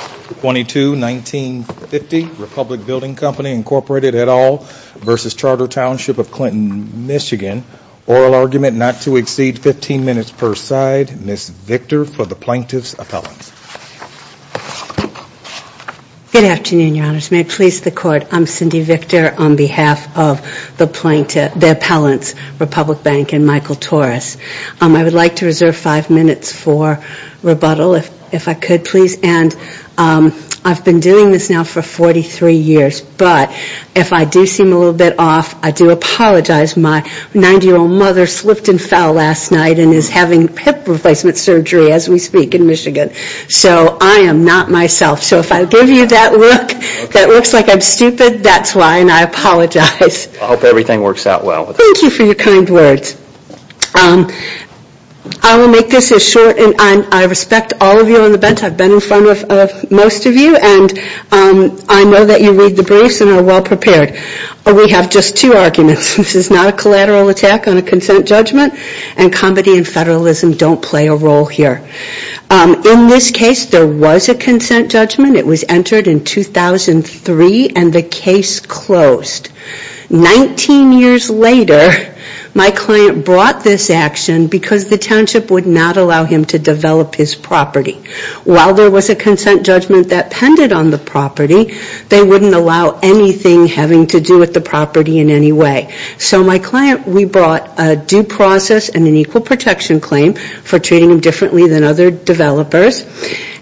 Oral Argument not to exceed 15 minutes per side. Ms. Victor for the Plaintiff's Appellants. Good afternoon, Your Honors. May it please the Court, I'm Cindy Victor on behalf of the Plaintiff, the Appellants, Republic Bank, and Michael Torres. I would like to reserve five minutes for rebuttal, if I could, please. And I would like to ask the plaintiffs to do so. I've been doing this now for 43 years, but if I do seem a little bit off, I do apologize. My 90-year-old mother slipped and fell last night and is having hip replacement surgery as we speak in Michigan. So I am not myself. So if I give you that look that looks like I'm stupid, that's why, and I apologize. I hope everything works out well. Thank you for your kind words. I will make this as short, and I respect all of you on the bench. I've been in front of most of you, and I know that you read the briefs and are well prepared. We have just two arguments. This is not a collateral attack on a consent judgment, and comedy and federalism don't play a role here. In this case, there was a consent judgment. It was entered in 2003, and the case closed. 19 years later, my client brought this action because the township would not allow him to develop his property. While there was a consent judgment that pended on the property, they wouldn't allow anything having to do with the property in any way. So my client, we brought a due process and an equal protection claim for treating him differently than other developers,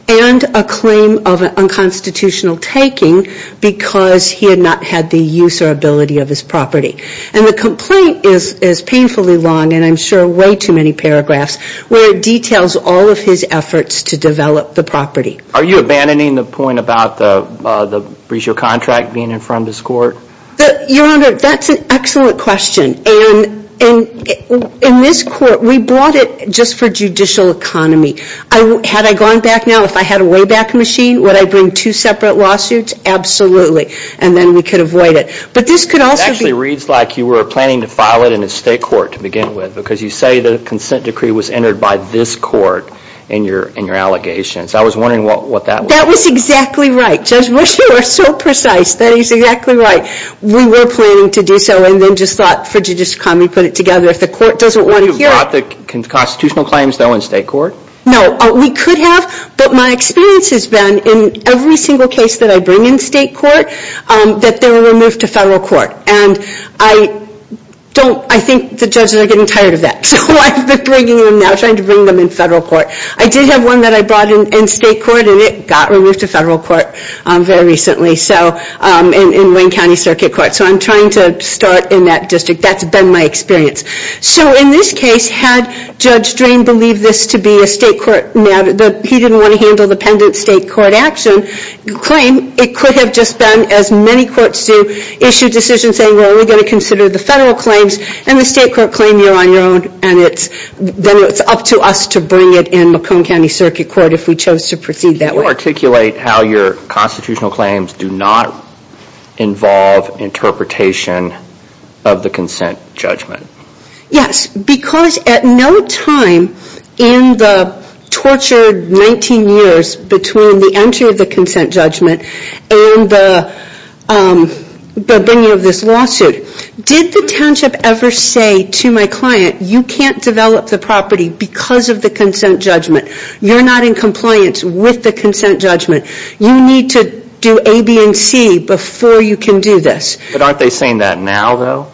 and a claim of unconstitutional taking because he had not had the use or ability of his property. And the complaint is painfully long, and I'm sure way too many paragraphs, where it details all of his efforts to develop the property. Are you abandoning the point about the breach of contract being in front of this court? Your Honor, that's an excellent question. And in this court, we brought it just for judicial economy. Had I gone back now, if I had a way back machine, would I bring two separate lawsuits? Absolutely. And then we could avoid it. But this could also be It actually reads like you were planning to file it in a state court to begin with, because you say the consent decree was entered by this court in your allegations. I was wondering what that was. That was exactly right. Judge Ruscio was so precise. That is exactly right. We were planning to do so, and then just thought, for judicial economy, put it together. If the court doesn't want to hear it Would you have brought the constitutional claims, though, in state court? No. We could have, but my experience has been in every single case that I bring in state court, that they were removed to federal court. And I think the judges are getting tired of that. So I've been bringing them now, trying to bring them in federal court. I did have one that I brought in state court, and it got removed to federal court very recently, in Wayne County Circuit Court. So I'm trying to start in that district. That's been my experience. So in this case, had Judge Drain believe this to be a state court matter, that he didn't want to handle the pendant state court action claim, it could have just been, as many courts do, issued decisions saying, well, we're going to consider the federal claims, and the state to bring it in Macomb County Circuit Court if we chose to proceed that way. Can you articulate how your constitutional claims do not involve interpretation of the consent judgment? Yes, because at no time in the tortured 19 years between the entry of the consent judgment and the bringing of this lawsuit, did the township ever say to my client, you can't develop the property because of the consent judgment. You're not in compliance with the consent judgment. You need to do A, B, and C before you can do this. But aren't they saying that now, though?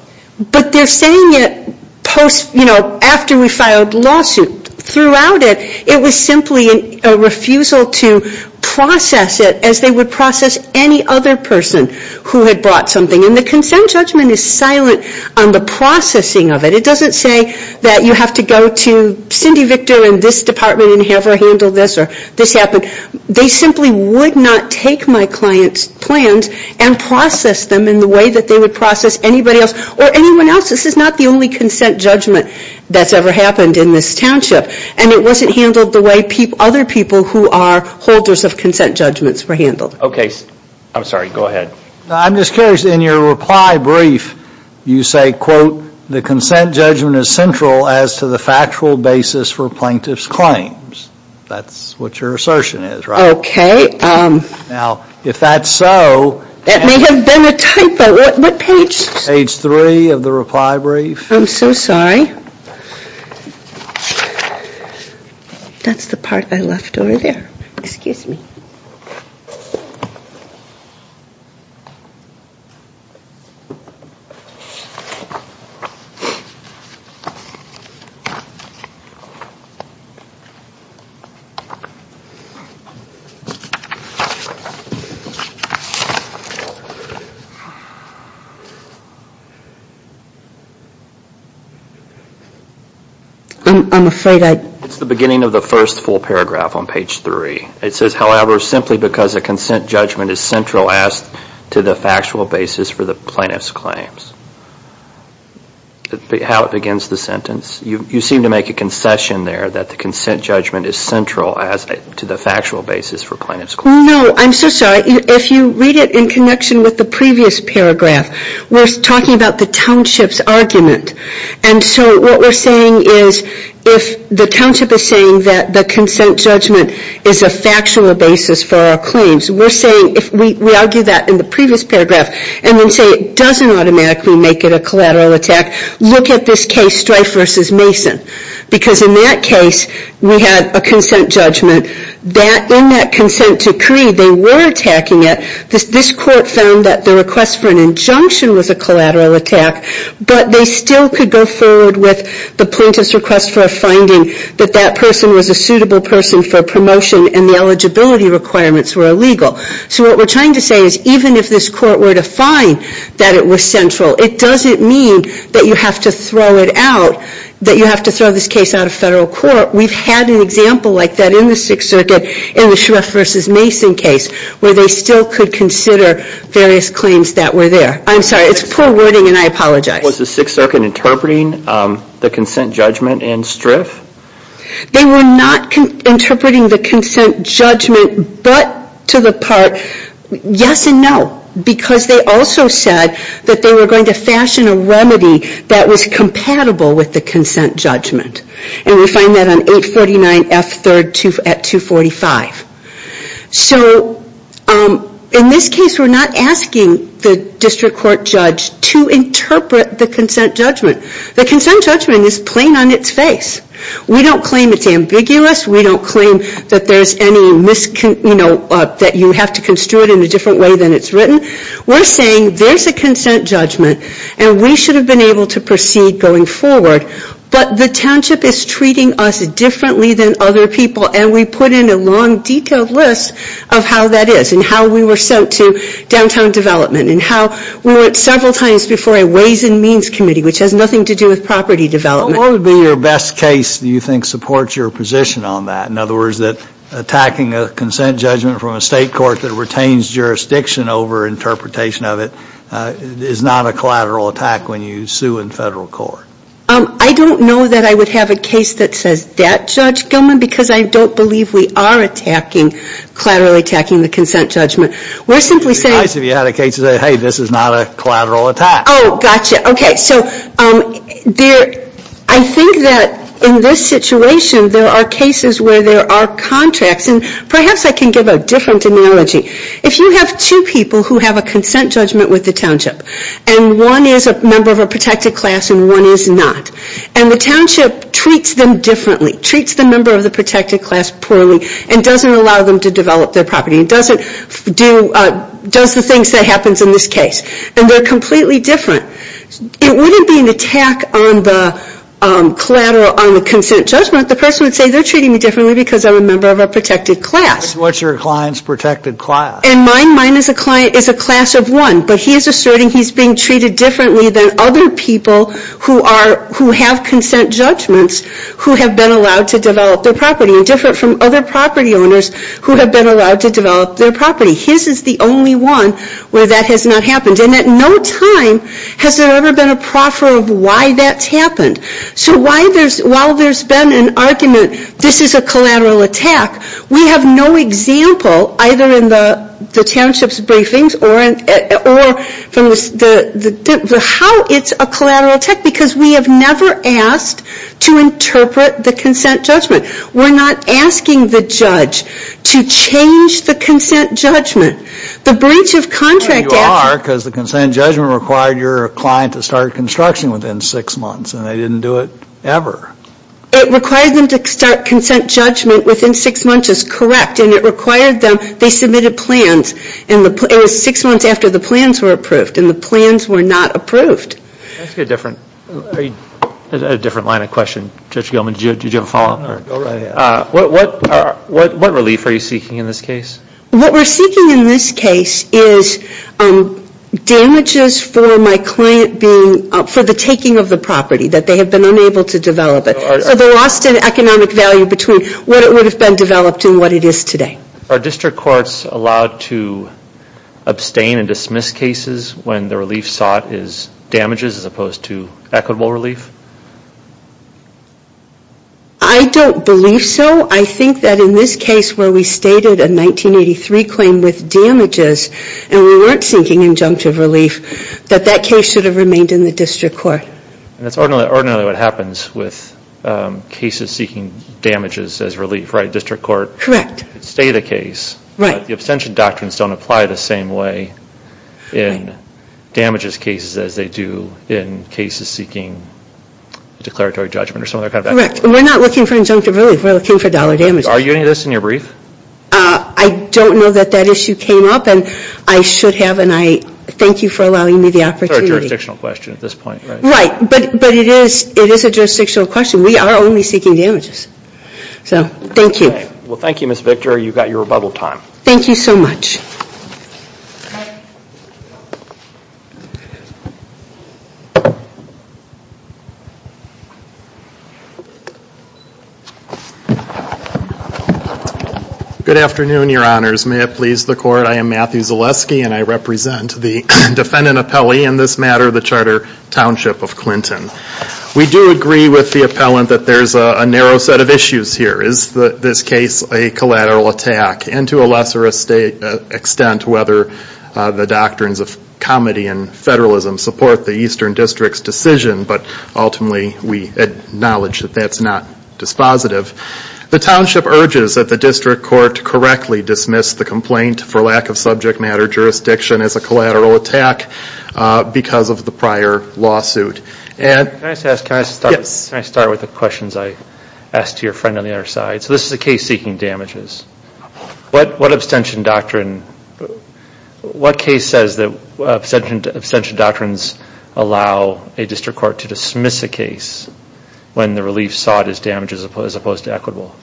But they're saying it post, you know, after we filed the lawsuit. Throughout it, it was simply a refusal to process it as they would process any other person who had brought something. And the consent judgment is silent on the processing of it. It doesn't say that you have to go to Cindy Victor and this department and have her handle this or this happened. They simply would not take my client's plans and process them in the way that they would process anybody else or anyone else. This is not the only consent judgment that's ever happened in this township. And it wasn't handled the way other people who are holders of consent judgments were handled. Okay. I'm sorry. Go ahead. I'm just curious. In your reply brief, you say, quote, the consent judgment is central as to the factual basis for plaintiff's claims. That's what your assertion is, right? Okay. Now, if that's so. That may have been a typo. What page? Page three of the reply brief. I'm so sorry. That's the part I left over there. Excuse me. I'm afraid it's the beginning of the first full paragraph on page three. It says, however, simply because a consent judgment is central as to the factual basis for the plaintiff's claims. How it begins the sentence. You seem to make a concession there that the consent judgment is central as to the factual basis for plaintiff's claims. No. I'm so sorry. If you read it in connection with the previous paragraph, we're talking about the township's argument. And so what we're saying is if the township is saying that the consent judgment is a factual basis for our claims, we're saying if we argue that in the previous paragraph and then say it doesn't automatically make it a collateral attack, look at this case, Strife v. Mason. Because in that case, we had a consent judgment that in that consent decree, they were attacking it. This court found that the request for an injunction was a collateral attack, but they still could go forward with the plaintiff's request for a finding that that person was a suitable person for promotion and the eligibility requirements were illegal. So what we're trying to say is even if this court were to find that it was central, it doesn't mean that you have to throw it out, that you have to throw this case out of federal court. We've had an example like that in the Sixth Circuit in the Strife v. Mason case where they still could consider various claims that were there. I'm sorry. It's poor wording and I apologize. Was the Sixth Circuit interpreting the consent judgment in Strife? They were not interpreting the consent judgment, but to the part, yes and no, because they also said that they were going to fashion a remedy that was compatible with the consent judgment. And we find that on 849 F. 3rd at 245. So in this case, we're not asking the consent judgment. The consent judgment is plain on its face. We don't claim it's ambiguous. We don't claim that there's any, you know, that you have to construe it in a different way than it's written. We're saying there's a consent judgment and we should have been able to proceed going forward, but the township is treating us differently than other people and we put in a long detailed list of how that is and how we were sent to downtown development and how we were several times before a Ways and Means Committee, which has nothing to do with property development. What would be your best case that you think supports your position on that? In other words, that attacking a consent judgment from a state court that retains jurisdiction over interpretation of it is not a collateral attack when you sue in federal court? I don't know that I would have a case that says that, Judge Gilman, because I don't believe we are attacking, collateral attacking the consent judgment. We're simply saying It would be nice if you had a case that said, hey, this is not a collateral attack. Oh, gotcha. Okay, so there, I think that in this situation there are cases where there are contracts and perhaps I can give a different analogy. If you have two people who have a consent judgment with the township and one is a member of a protected class and one is not, and the township treats them differently, treats the member of the protected class poorly and doesn't allow them to develop their property and doesn't do, does the things that happens in this case. And they're completely different. It wouldn't be an attack on the collateral on the consent judgment. The person would say they're treating me differently because I'm a member of a protected class. What's your client's protected class? And mine, mine is a client, is a class of one. But he is asserting he's being treated differently than other people who are, who have consent judgments who have been allowed to develop their property and different from other property owners who have been allowed to develop their property. His is the only one where that has not happened. And at no time has there ever been a proffer of why that's happened. So why there's, while there's been an argument this is a collateral attack, we have no example either in the township's briefings or from the, how it's a collateral attack because we have never asked to interpret the consent judgment. We're not asking the judge to change the consent judgment. The breach of contract. You are because the consent judgment required your client to start construction within six months and they didn't do it ever. It required them to start consent judgment within six months is correct and it required them, they submitted plans and it was six months after the plans were approved and the plans were not approved. Can I ask you a different, a different line of question? Judge Gilman, did you have a follow up? Go right ahead. What, what, what relief are you seeking in this case? What we're seeking in this case is damages for my client being, for the taking of the property, that they have been unable to develop it. So the lost in economic value between what it would have been developed and what it is today. Are district courts allowed to abstain and dismiss cases when the relief sought is damages as opposed to equitable relief? I don't believe so. I think that in this case where we stated a 1983 claim with damages and we weren't seeking injunctive relief, that that case should have remained in the district court. That's ordinarily what happens with cases seeking damages as relief, right? District court. Correct. State a case. Right. The abstention doctrines don't apply the same way in damages cases as they do in cases seeking declaratory judgment or some other kind of action. Correct. We're not looking for injunctive relief. We're looking for dollar damages. Are you doing this in your brief? I don't know that that issue came up and I should have and I thank you for allowing me the opportunity. It's a jurisdictional question at this point, right? Right. But, but it is, it is a jurisdictional question. We are only seeking damages. So thank you. Well, thank you, Ms. Victor. You've got your rebuttal time. Thank you so much. Good afternoon, your honors. May it please the court, I am Matthew Zaleski and I represent the defendant appellee in this matter, the Charter Township of Clinton. We do agree with the appellant that there's a narrow set of issues here. Is this case a collateral attack? And to a lesser extent whether the doctrines of comedy and federalism support the Eastern District's decision, but ultimately we acknowledge that that's not dispositive. The Township urges that the District Court correctly dismiss the complaint for lack of subject matter jurisdiction as a collateral attack because of the prior lawsuit. Can I just ask, can I start with the questions I asked to your friend on the other side? So this is a case seeking damages. What, what abstention doctrine, what case says that abstention doctrines allow a District Court to dismiss a case when the relief sought is damaged as opposed to equitable?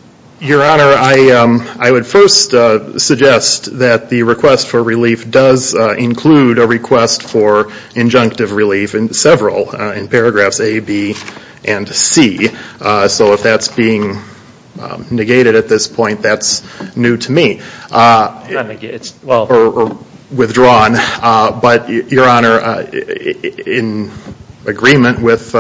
Your honor, I would first suggest that the request for relief does include a request for injunctive relief in several, in paragraphs A, B, and C. So if that's being negated at this point, that's new to me or withdrawn. But your honor, in agreement with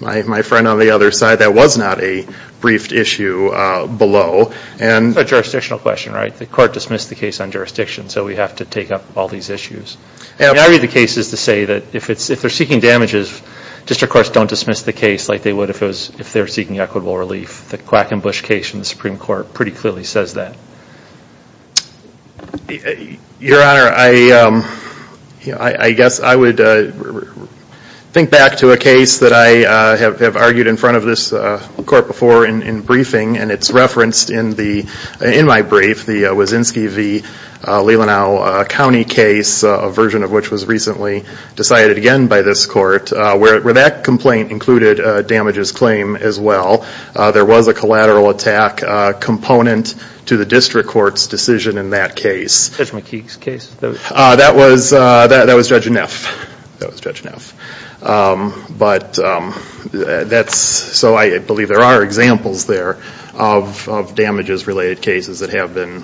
my friend on the other side, that was not a briefed issue below. It's a jurisdictional question, right? The court dismissed the case on jurisdiction, so we have to take up all these issues. I read the cases to say that if they're seeking damages, District Courts don't dismiss the case like they would if they were seeking equitable relief. The Quackenbush case in the Supreme Court pretty clearly says that. Your honor, I guess I would think back to a case that I have argued in front of this court before in briefing and it's referenced in my brief, the Wazinski v. Lelanau County case, a version of which was recently decided again by this court, where that complaint included damages claim as well. There was a collateral attack component to the District Court's decision in that case. Judge McKeague's case? That was Judge Neff. But that's, so I believe there are examples there of damages related cases that have been.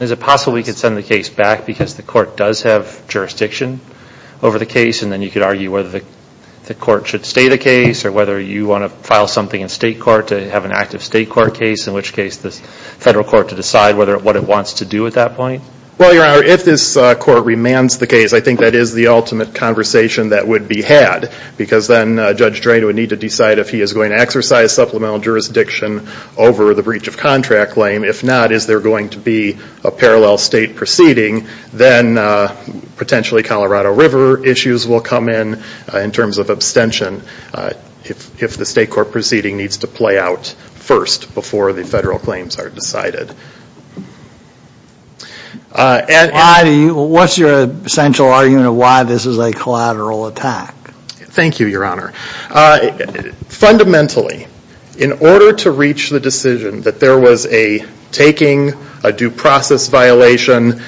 Is it possible we could send the case back because the court does have jurisdiction over the case and then you could argue whether the court should state a case or whether you want to file something in state court to have an active state court case, in which case the federal court to decide what it wants to do at that point? Well, your honor, if this court remands the case, I think that is the ultimate conversation that would be had because then Judge Drayton would need to decide if he is going to exercise supplemental jurisdiction over the breach of contract claim. If not, is there going to be a parallel state proceeding? Then potentially Colorado River issues will come in, in terms of abstention, if the state court proceeding needs to play out first before the federal claims are decided. Why do you, what's your essential argument of why this is a collateral attack? Thank you, your honor. Fundamentally, in order to reach the decision that there was a taking, a due process violation,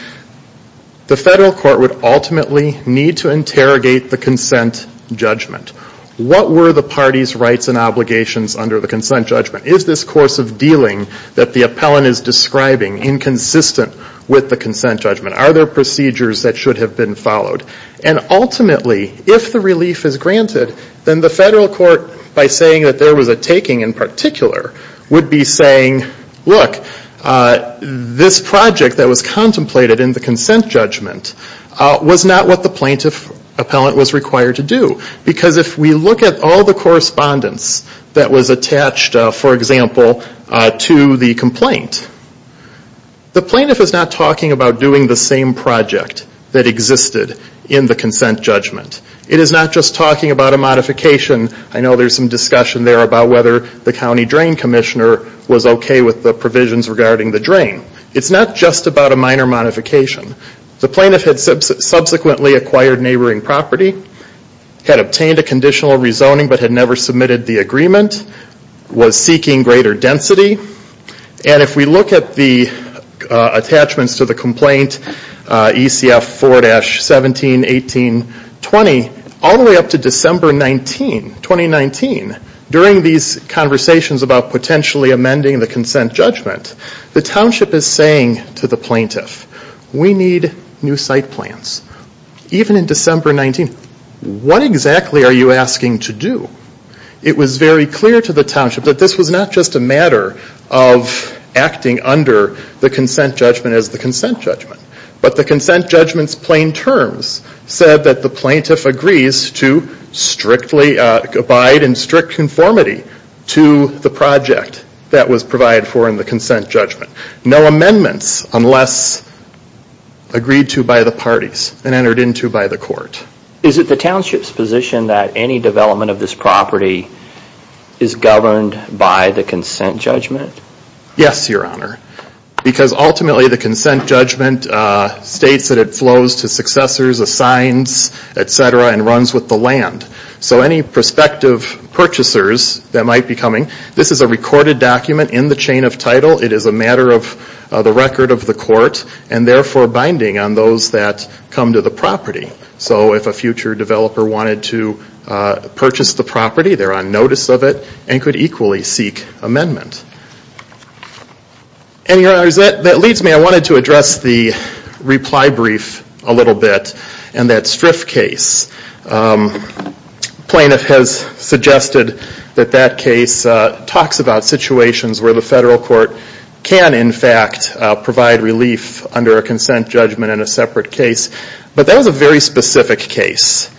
the federal court would ultimately need to interrogate the consent judgment. What were the party's rights and obligations under the consent judgment? Is this course of dealing that the appellant is describing inconsistent with the consent judgment? Are there procedures that should have been followed? And ultimately, if the relief is granted, then the federal court, by saying that there was a taking in particular, would be saying, look, this project that was contemplated in the consent judgment was not what the plaintiff appellant was required to do. Because if we look at all the correspondence that was attached, for example, to the complaint, the plaintiff is not talking about doing the same project that existed in the consent judgment. It is not just talking about a modification. I know there's some discussion there about whether the county drain commissioner was okay with the provisions regarding the drain. It's not just about a minor modification. The plaintiff had subsequently acquired neighboring property, had obtained a conditional rezoning but had never submitted the agreement, was we look at the attachments to the complaint, ECF 4-17-18-20, all the way up to December 19, 2019, during these conversations about potentially amending the consent judgment, the township is saying to the plaintiff, we need new site plans. Even in December 19, what exactly are you asking to do? It was very clear to the township that this was not just a matter of acting under the consent judgment as the consent judgment. But the consent judgment's plain terms said that the plaintiff agrees to strictly abide in strict conformity to the project that was provided for in the consent judgment. No amendments unless agreed to by the parties and entered into by the court. Is it the township's position that any development of this property is governed by the consent judgment? Yes, Your Honor. Because ultimately the consent judgment states that it flows to successors, assigns, etc., and runs with the land. So any prospective purchasers that might be coming, this is a recorded document in the chain of title, it is a matter of the record of the court, and therefore binding on those that come to the property. So if a future developer wanted to purchase the property, they're on notice of it, and could equally seek amendment. And Your Honor, that leads me, I wanted to address the reply brief a little bit, and that Striff case. The plaintiff has suggested that that case talks about situations where the federal court can, in fact, provide relief under a consent judgment in a separate case. But that was a very specific case.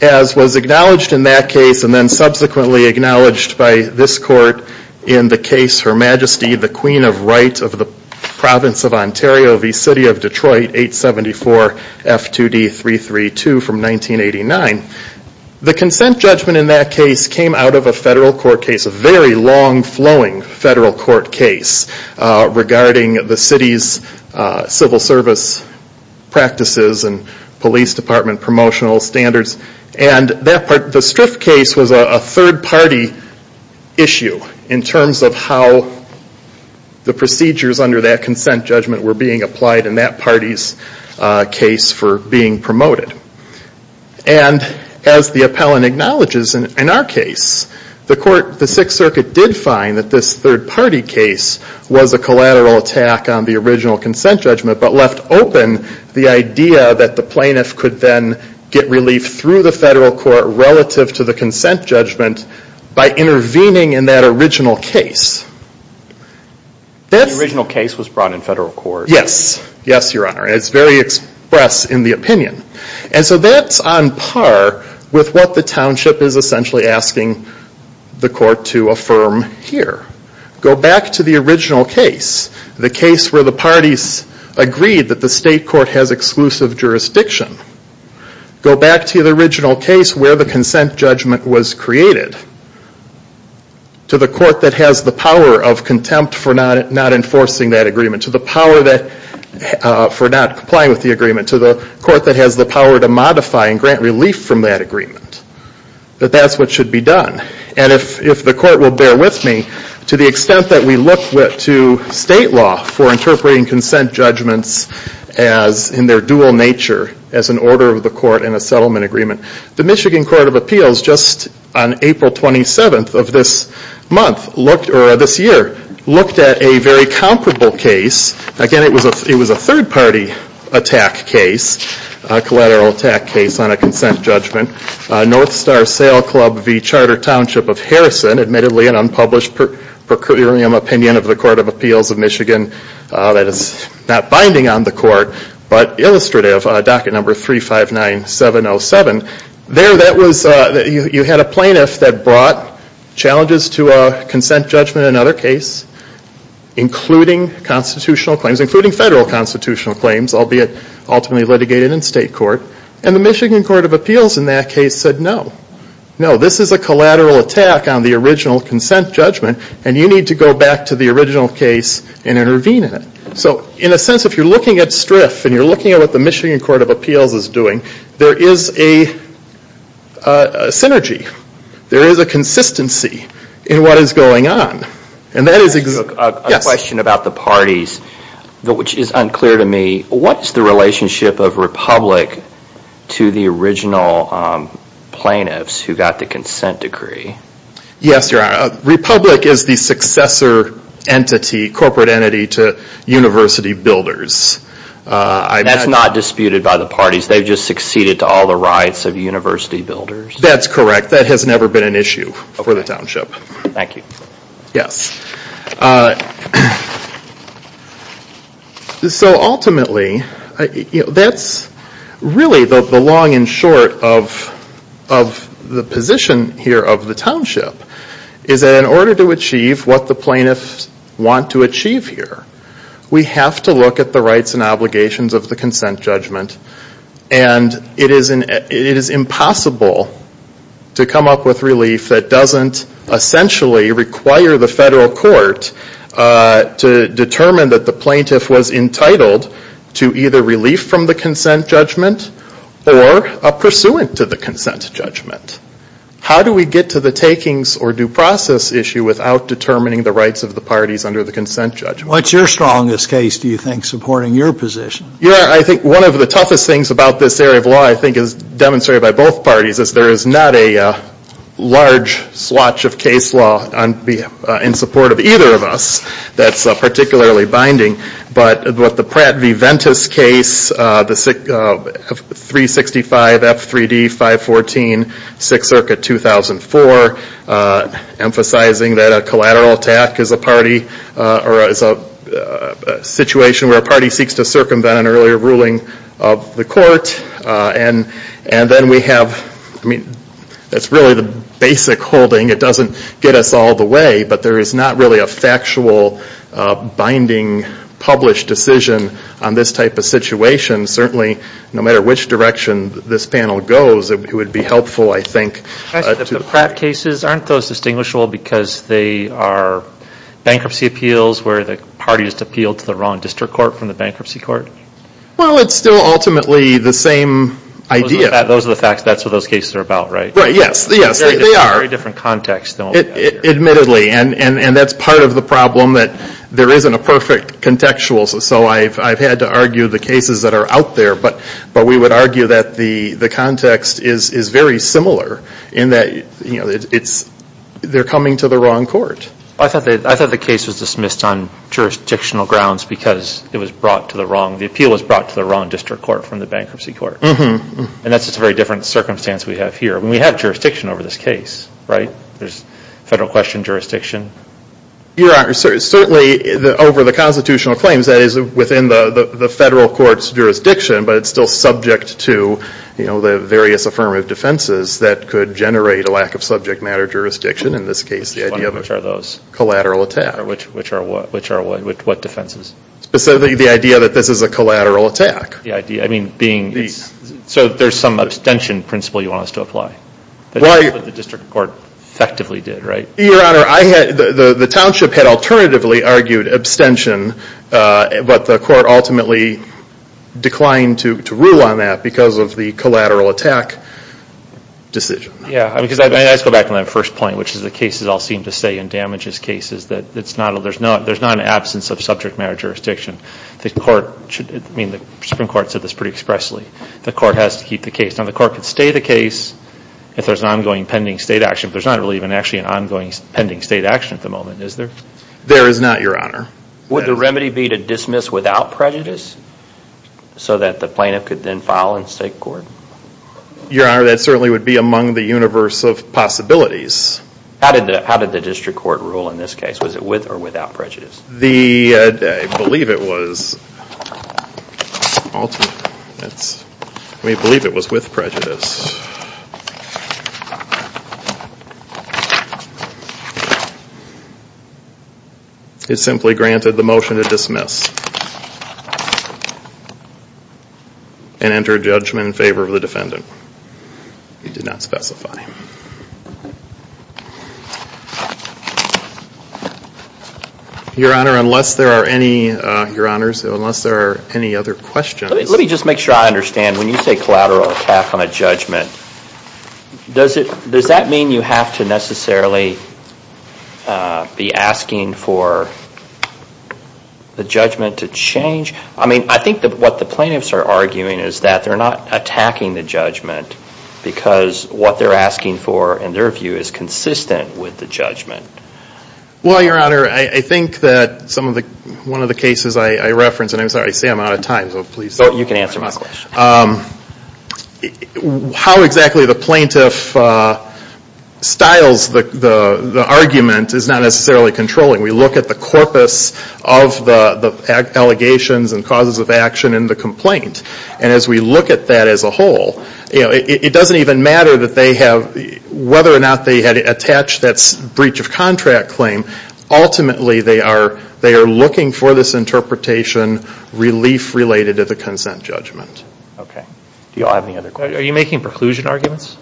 As was acknowledged in that case, and then subsequently acknowledged by this court in the case Her Majesty the Queen of Right of the Province of Ontario v. City of Detroit 874 F2D 332 from 1989. The consent judgment in that case came out of a federal court case, a very long-flowing federal court case regarding the city's civil service practices and police department promotional standards. And the Striff case was a third-party issue in terms of how the procedures under that consent judgment were being applied in that party's case for being promoted. And as the appellant acknowledges in our case, the Sixth Circuit did find that this third-party case was a collateral attack on the original consent judgment, but left open the idea that the plaintiff could then get relief through the federal court relative to the consent judgment by intervening in that original case. The original case was brought in federal court. Yes. Yes, Your Honor. And it's very express in the opinion. And so that's on par with what the township is essentially asking the court to affirm here. Go back to the original case, the case where the parties agreed that the state court has exclusive jurisdiction. Go back to the original case where the consent judgment was created. To the court that has the power of contempt for not enforcing that agreement, to the power for not complying with the agreement, to the court that has the power to modify and grant relief from that agreement, that that's what should be done. And if the court will bear with me, to the extent that we look to state law for interpreting consent judgments in their dual nature as an order of the court and a settlement agreement. The Michigan Court of Appeals just on April 27th of this month, or this year, looked at a very comparable case. Again, it was a third-party attack case, a collateral attack case on a consent judgment. North Star Sail Club v. Charter Township of Harrison, admittedly an unpublished procuratorium opinion of the Court of Appeals of Michigan that is not binding on the court, but illustrative, docket number 359707. There that was, you had a plaintiff that brought challenges to a consent judgment in another case, including constitutional claims, including federal constitutional claims, albeit ultimately litigated in state court. And the Michigan Court of Appeals in that case said no. No, this is a collateral attack on the original consent judgment, and you need to go back to the original case and intervene in it. So, in a sense, if you're looking at STRF and you're looking at what the Michigan Court of Appeals is doing, there is a synergy. There is a consistency in what is going on. And that is... Yes? A question about the parties, which is unclear to me. What is the relationship of Republic to the original plaintiffs who got the consent decree? Yes, you're right. Republic is the successor entity, corporate entity, to University Builders. That's not disputed by the parties. They've just succeeded to all the rights of University Builders? That's correct. That has never been an issue for the township. Thank you. Yes. So ultimately, that's really the long and short of the position here of the township, is that in order to achieve what the plaintiffs want to achieve here, we have to look at the rights and obligations of the court to determine that the plaintiff was entitled to either relief from the consent judgment or a pursuant to the consent judgment. How do we get to the takings or due process issue without determining the rights of the parties under the consent judgment? What's your strongest case, do you think, supporting your position? Yes, I think one of the toughest things about this area of law, I think, is demonstrated by both parties, is there is not a large swatch of case law in support of either of us that's particularly binding. But with the Pratt v. Ventus case, the 365 F3D 514, 6th Circuit, 2004, emphasizing that a collateral attack is a situation where a party seeks to circumvent an earlier ruling of the court. And then we have, I mean, that's really the basic holding, it doesn't get us all the way, but there is not really a factual, binding, published decision on this type of situation. Certainly, no matter which direction this panel goes, it would be helpful, I think. The Pratt cases, aren't those distinguishable because they are bankruptcy appeals where the parties appealed to the wrong district court from the bankruptcy court? Well, it's still ultimately the same idea. Those are the facts, that's what those cases are about, right? Right, yes, yes, they are. Very different context. Admittedly, and that's part of the problem, that there isn't a perfect contextual. So I've had to argue the cases that are out there, but we would argue that the context is very similar, in that they're coming to the wrong court. I thought the case was dismissed on jurisdictional grounds because it was brought to the wrong, the appeal was brought to the wrong district court from the bankruptcy court. And that's a very different circumstance we have here. I mean, we have jurisdiction over this case, right? There's federal question jurisdiction. Certainly, over the constitutional claims, that is within the federal court's jurisdiction, but it's still subject to the various affirmative defenses that could generate a lack of subject matter Which are those? Collateral attack. Which are what? What defenses? Specifically, the idea that this is a collateral attack. The idea, I mean, being, so there's some abstention principle you want us to apply? That's what the district court effectively did, right? Your Honor, the township had alternatively argued abstention, but the court ultimately declined to rule on that because of the collateral attack decision. Let's go back to my first point, which is the cases all seem to say in damages cases that there's not an absence of subject matter jurisdiction. The Supreme Court said this pretty expressly. The court has to keep the case. Now, the court could stay the case if there's an ongoing pending state action, but there's not really even actually an ongoing pending state action at the moment, is there? There is not, Your Honor. Would the remedy be to dismiss without prejudice so that the plaintiff could then file in state court? Your Honor, that certainly would be among the universe of possibilities. How did the district court rule in this case? Was it with or without prejudice? I believe it was with prejudice. It simply granted the motion to dismiss and enter judgment in favor of the defendant. It did not specify. Your Honor, unless there are any other questions. When you say collateral attack on a judgment, does that mean you have to necessarily be asking for the judgment to change? I mean, I think what the plaintiffs are arguing is that they're not attacking the judgment because what they're asking for, in their view, is consistent with the judgment. Well, Your Honor, I think that one of the cases I reference, and I'm sorry, I say I'm out of time. You can answer my question. How exactly the plaintiff styles the argument is not necessarily controlling. We look at the corpus of the allegations and causes of action in the complaint. And as we look at that as a whole, it doesn't even matter whether or not they had attached that breach of contract claim. Ultimately, they are looking for this interpretation, relief related to the consent judgment. Okay. Do you all have any other questions? Are you making preclusion arguments?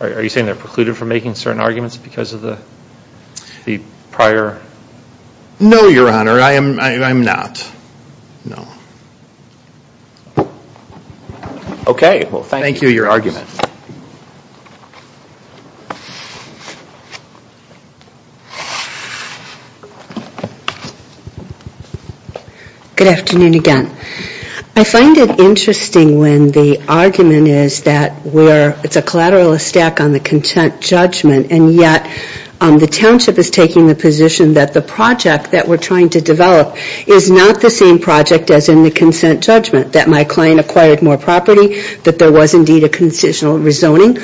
Are you saying they're precluded from making certain arguments because of the prior? No, Your Honor. I am not. No. Okay. Well, thank you for your argument. Good afternoon again. I find it interesting when the argument is that it's a collateralistic on the consent judgment, and yet the township is taking the position that the project that we're trying to develop is not the same project as in the consent judgment. That my client acquired more property, that there was indeed a concisional rezoning.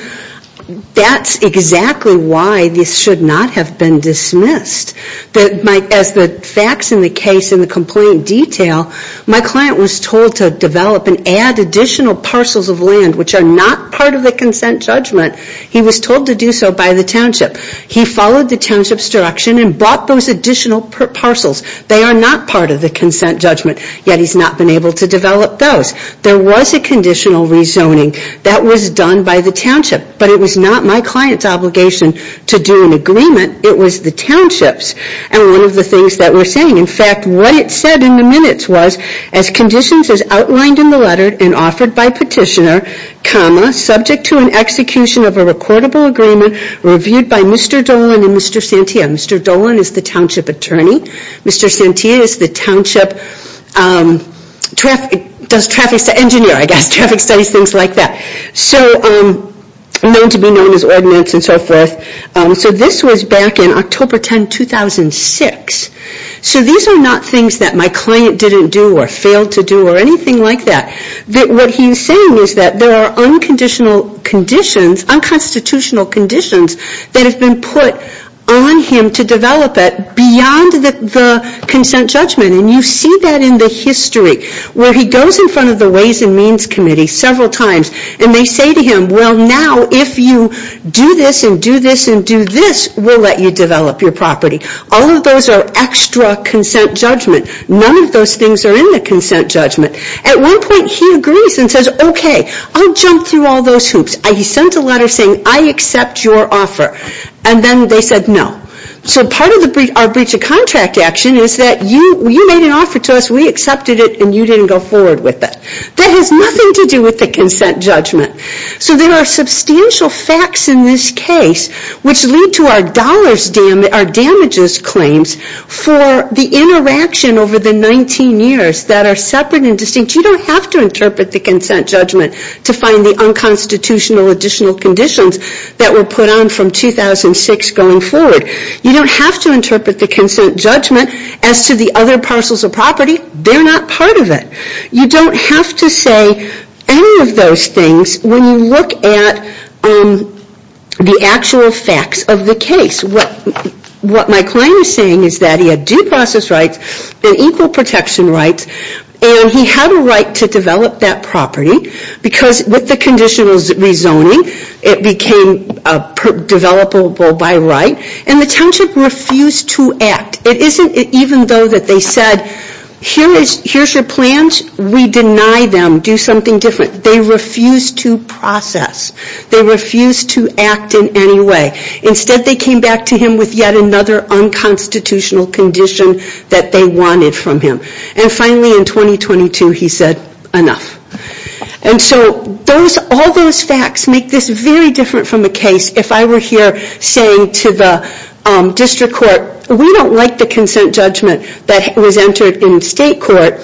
That's exactly why this should not have been dismissed. As the facts in the case in the complaint detail, my client was told to develop and add additional parcels of land which are not part of the consent judgment. He was told to do so by the township. He followed the township's direction and brought those additional parcels. They are not part of the consent judgment. Yet he's not been able to develop those. There was a conditional rezoning. That was done by the township. But it was not my client's obligation to do an agreement. It was the township's. And one of the things that we're saying, in fact, what it said in the minutes was, as conditions as outlined in the letter and offered by petitioner, comma, subject to an execution of a recordable agreement reviewed by Mr. Dolan and Mr. Santia. Mr. Dolan is the township attorney. Mr. Santia is the township engineer, I guess, traffic studies, things like that. So known to be known as ordinance and so forth. So this was back in October 10, 2006. So these are not things that my client didn't do or failed to do or anything like that. What he's saying is that there are unconstitutional conditions that have been put on him to develop it beyond the consent judgment. And you see that in the history where he goes in front of the Ways and Means Committee several times and they say to him, well, now if you do this and do this and do this, we'll let you develop your property. All of those are extra consent judgment. None of those things are in the consent judgment. At one point he agrees and says, okay, I'll jump through all those hoops. He sent a letter saying, I accept your offer. And then they said no. So part of our breach of contract action is that you made an offer to us, we accepted it, and you didn't go forward with it. That has nothing to do with the consent judgment. So there are substantial facts in this case which lead to our damages claims for the interaction over the 19 years that are separate and distinct. You don't have to interpret the consent judgment to find the unconstitutional additional conditions that were put on from 2006 going forward. You don't have to interpret the consent judgment as to the other parcels of property. They're not part of it. You don't have to say any of those things when you look at the actual facts of the case. What my client is saying is that he had due process rights and equal protection rights and he had a right to develop that property because with the conditional rezoning it became developable by right. And the township refused to act. It isn't even though that they said, here's your plans, we deny them, do something different. They refused to process. They refused to act in any way. Instead they came back to him with yet another unconstitutional condition that they wanted from him. And finally in 2022 he said, enough. And so all those facts make this very different from a case. If I were here saying to the district court, we don't like the consent judgment that was entered in state court.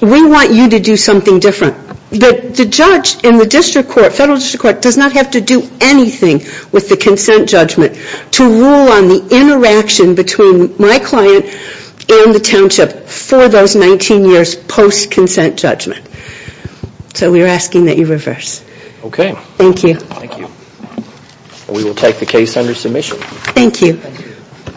We want you to do something different. But the judge in the district court, federal district court, does not have to do anything with the consent judgment to rule on the interaction between my client and the township for those 19 years post-consent judgment. So we are asking that you reverse. Okay. Thank you. Thank you. We will take the case under submission. Thank you.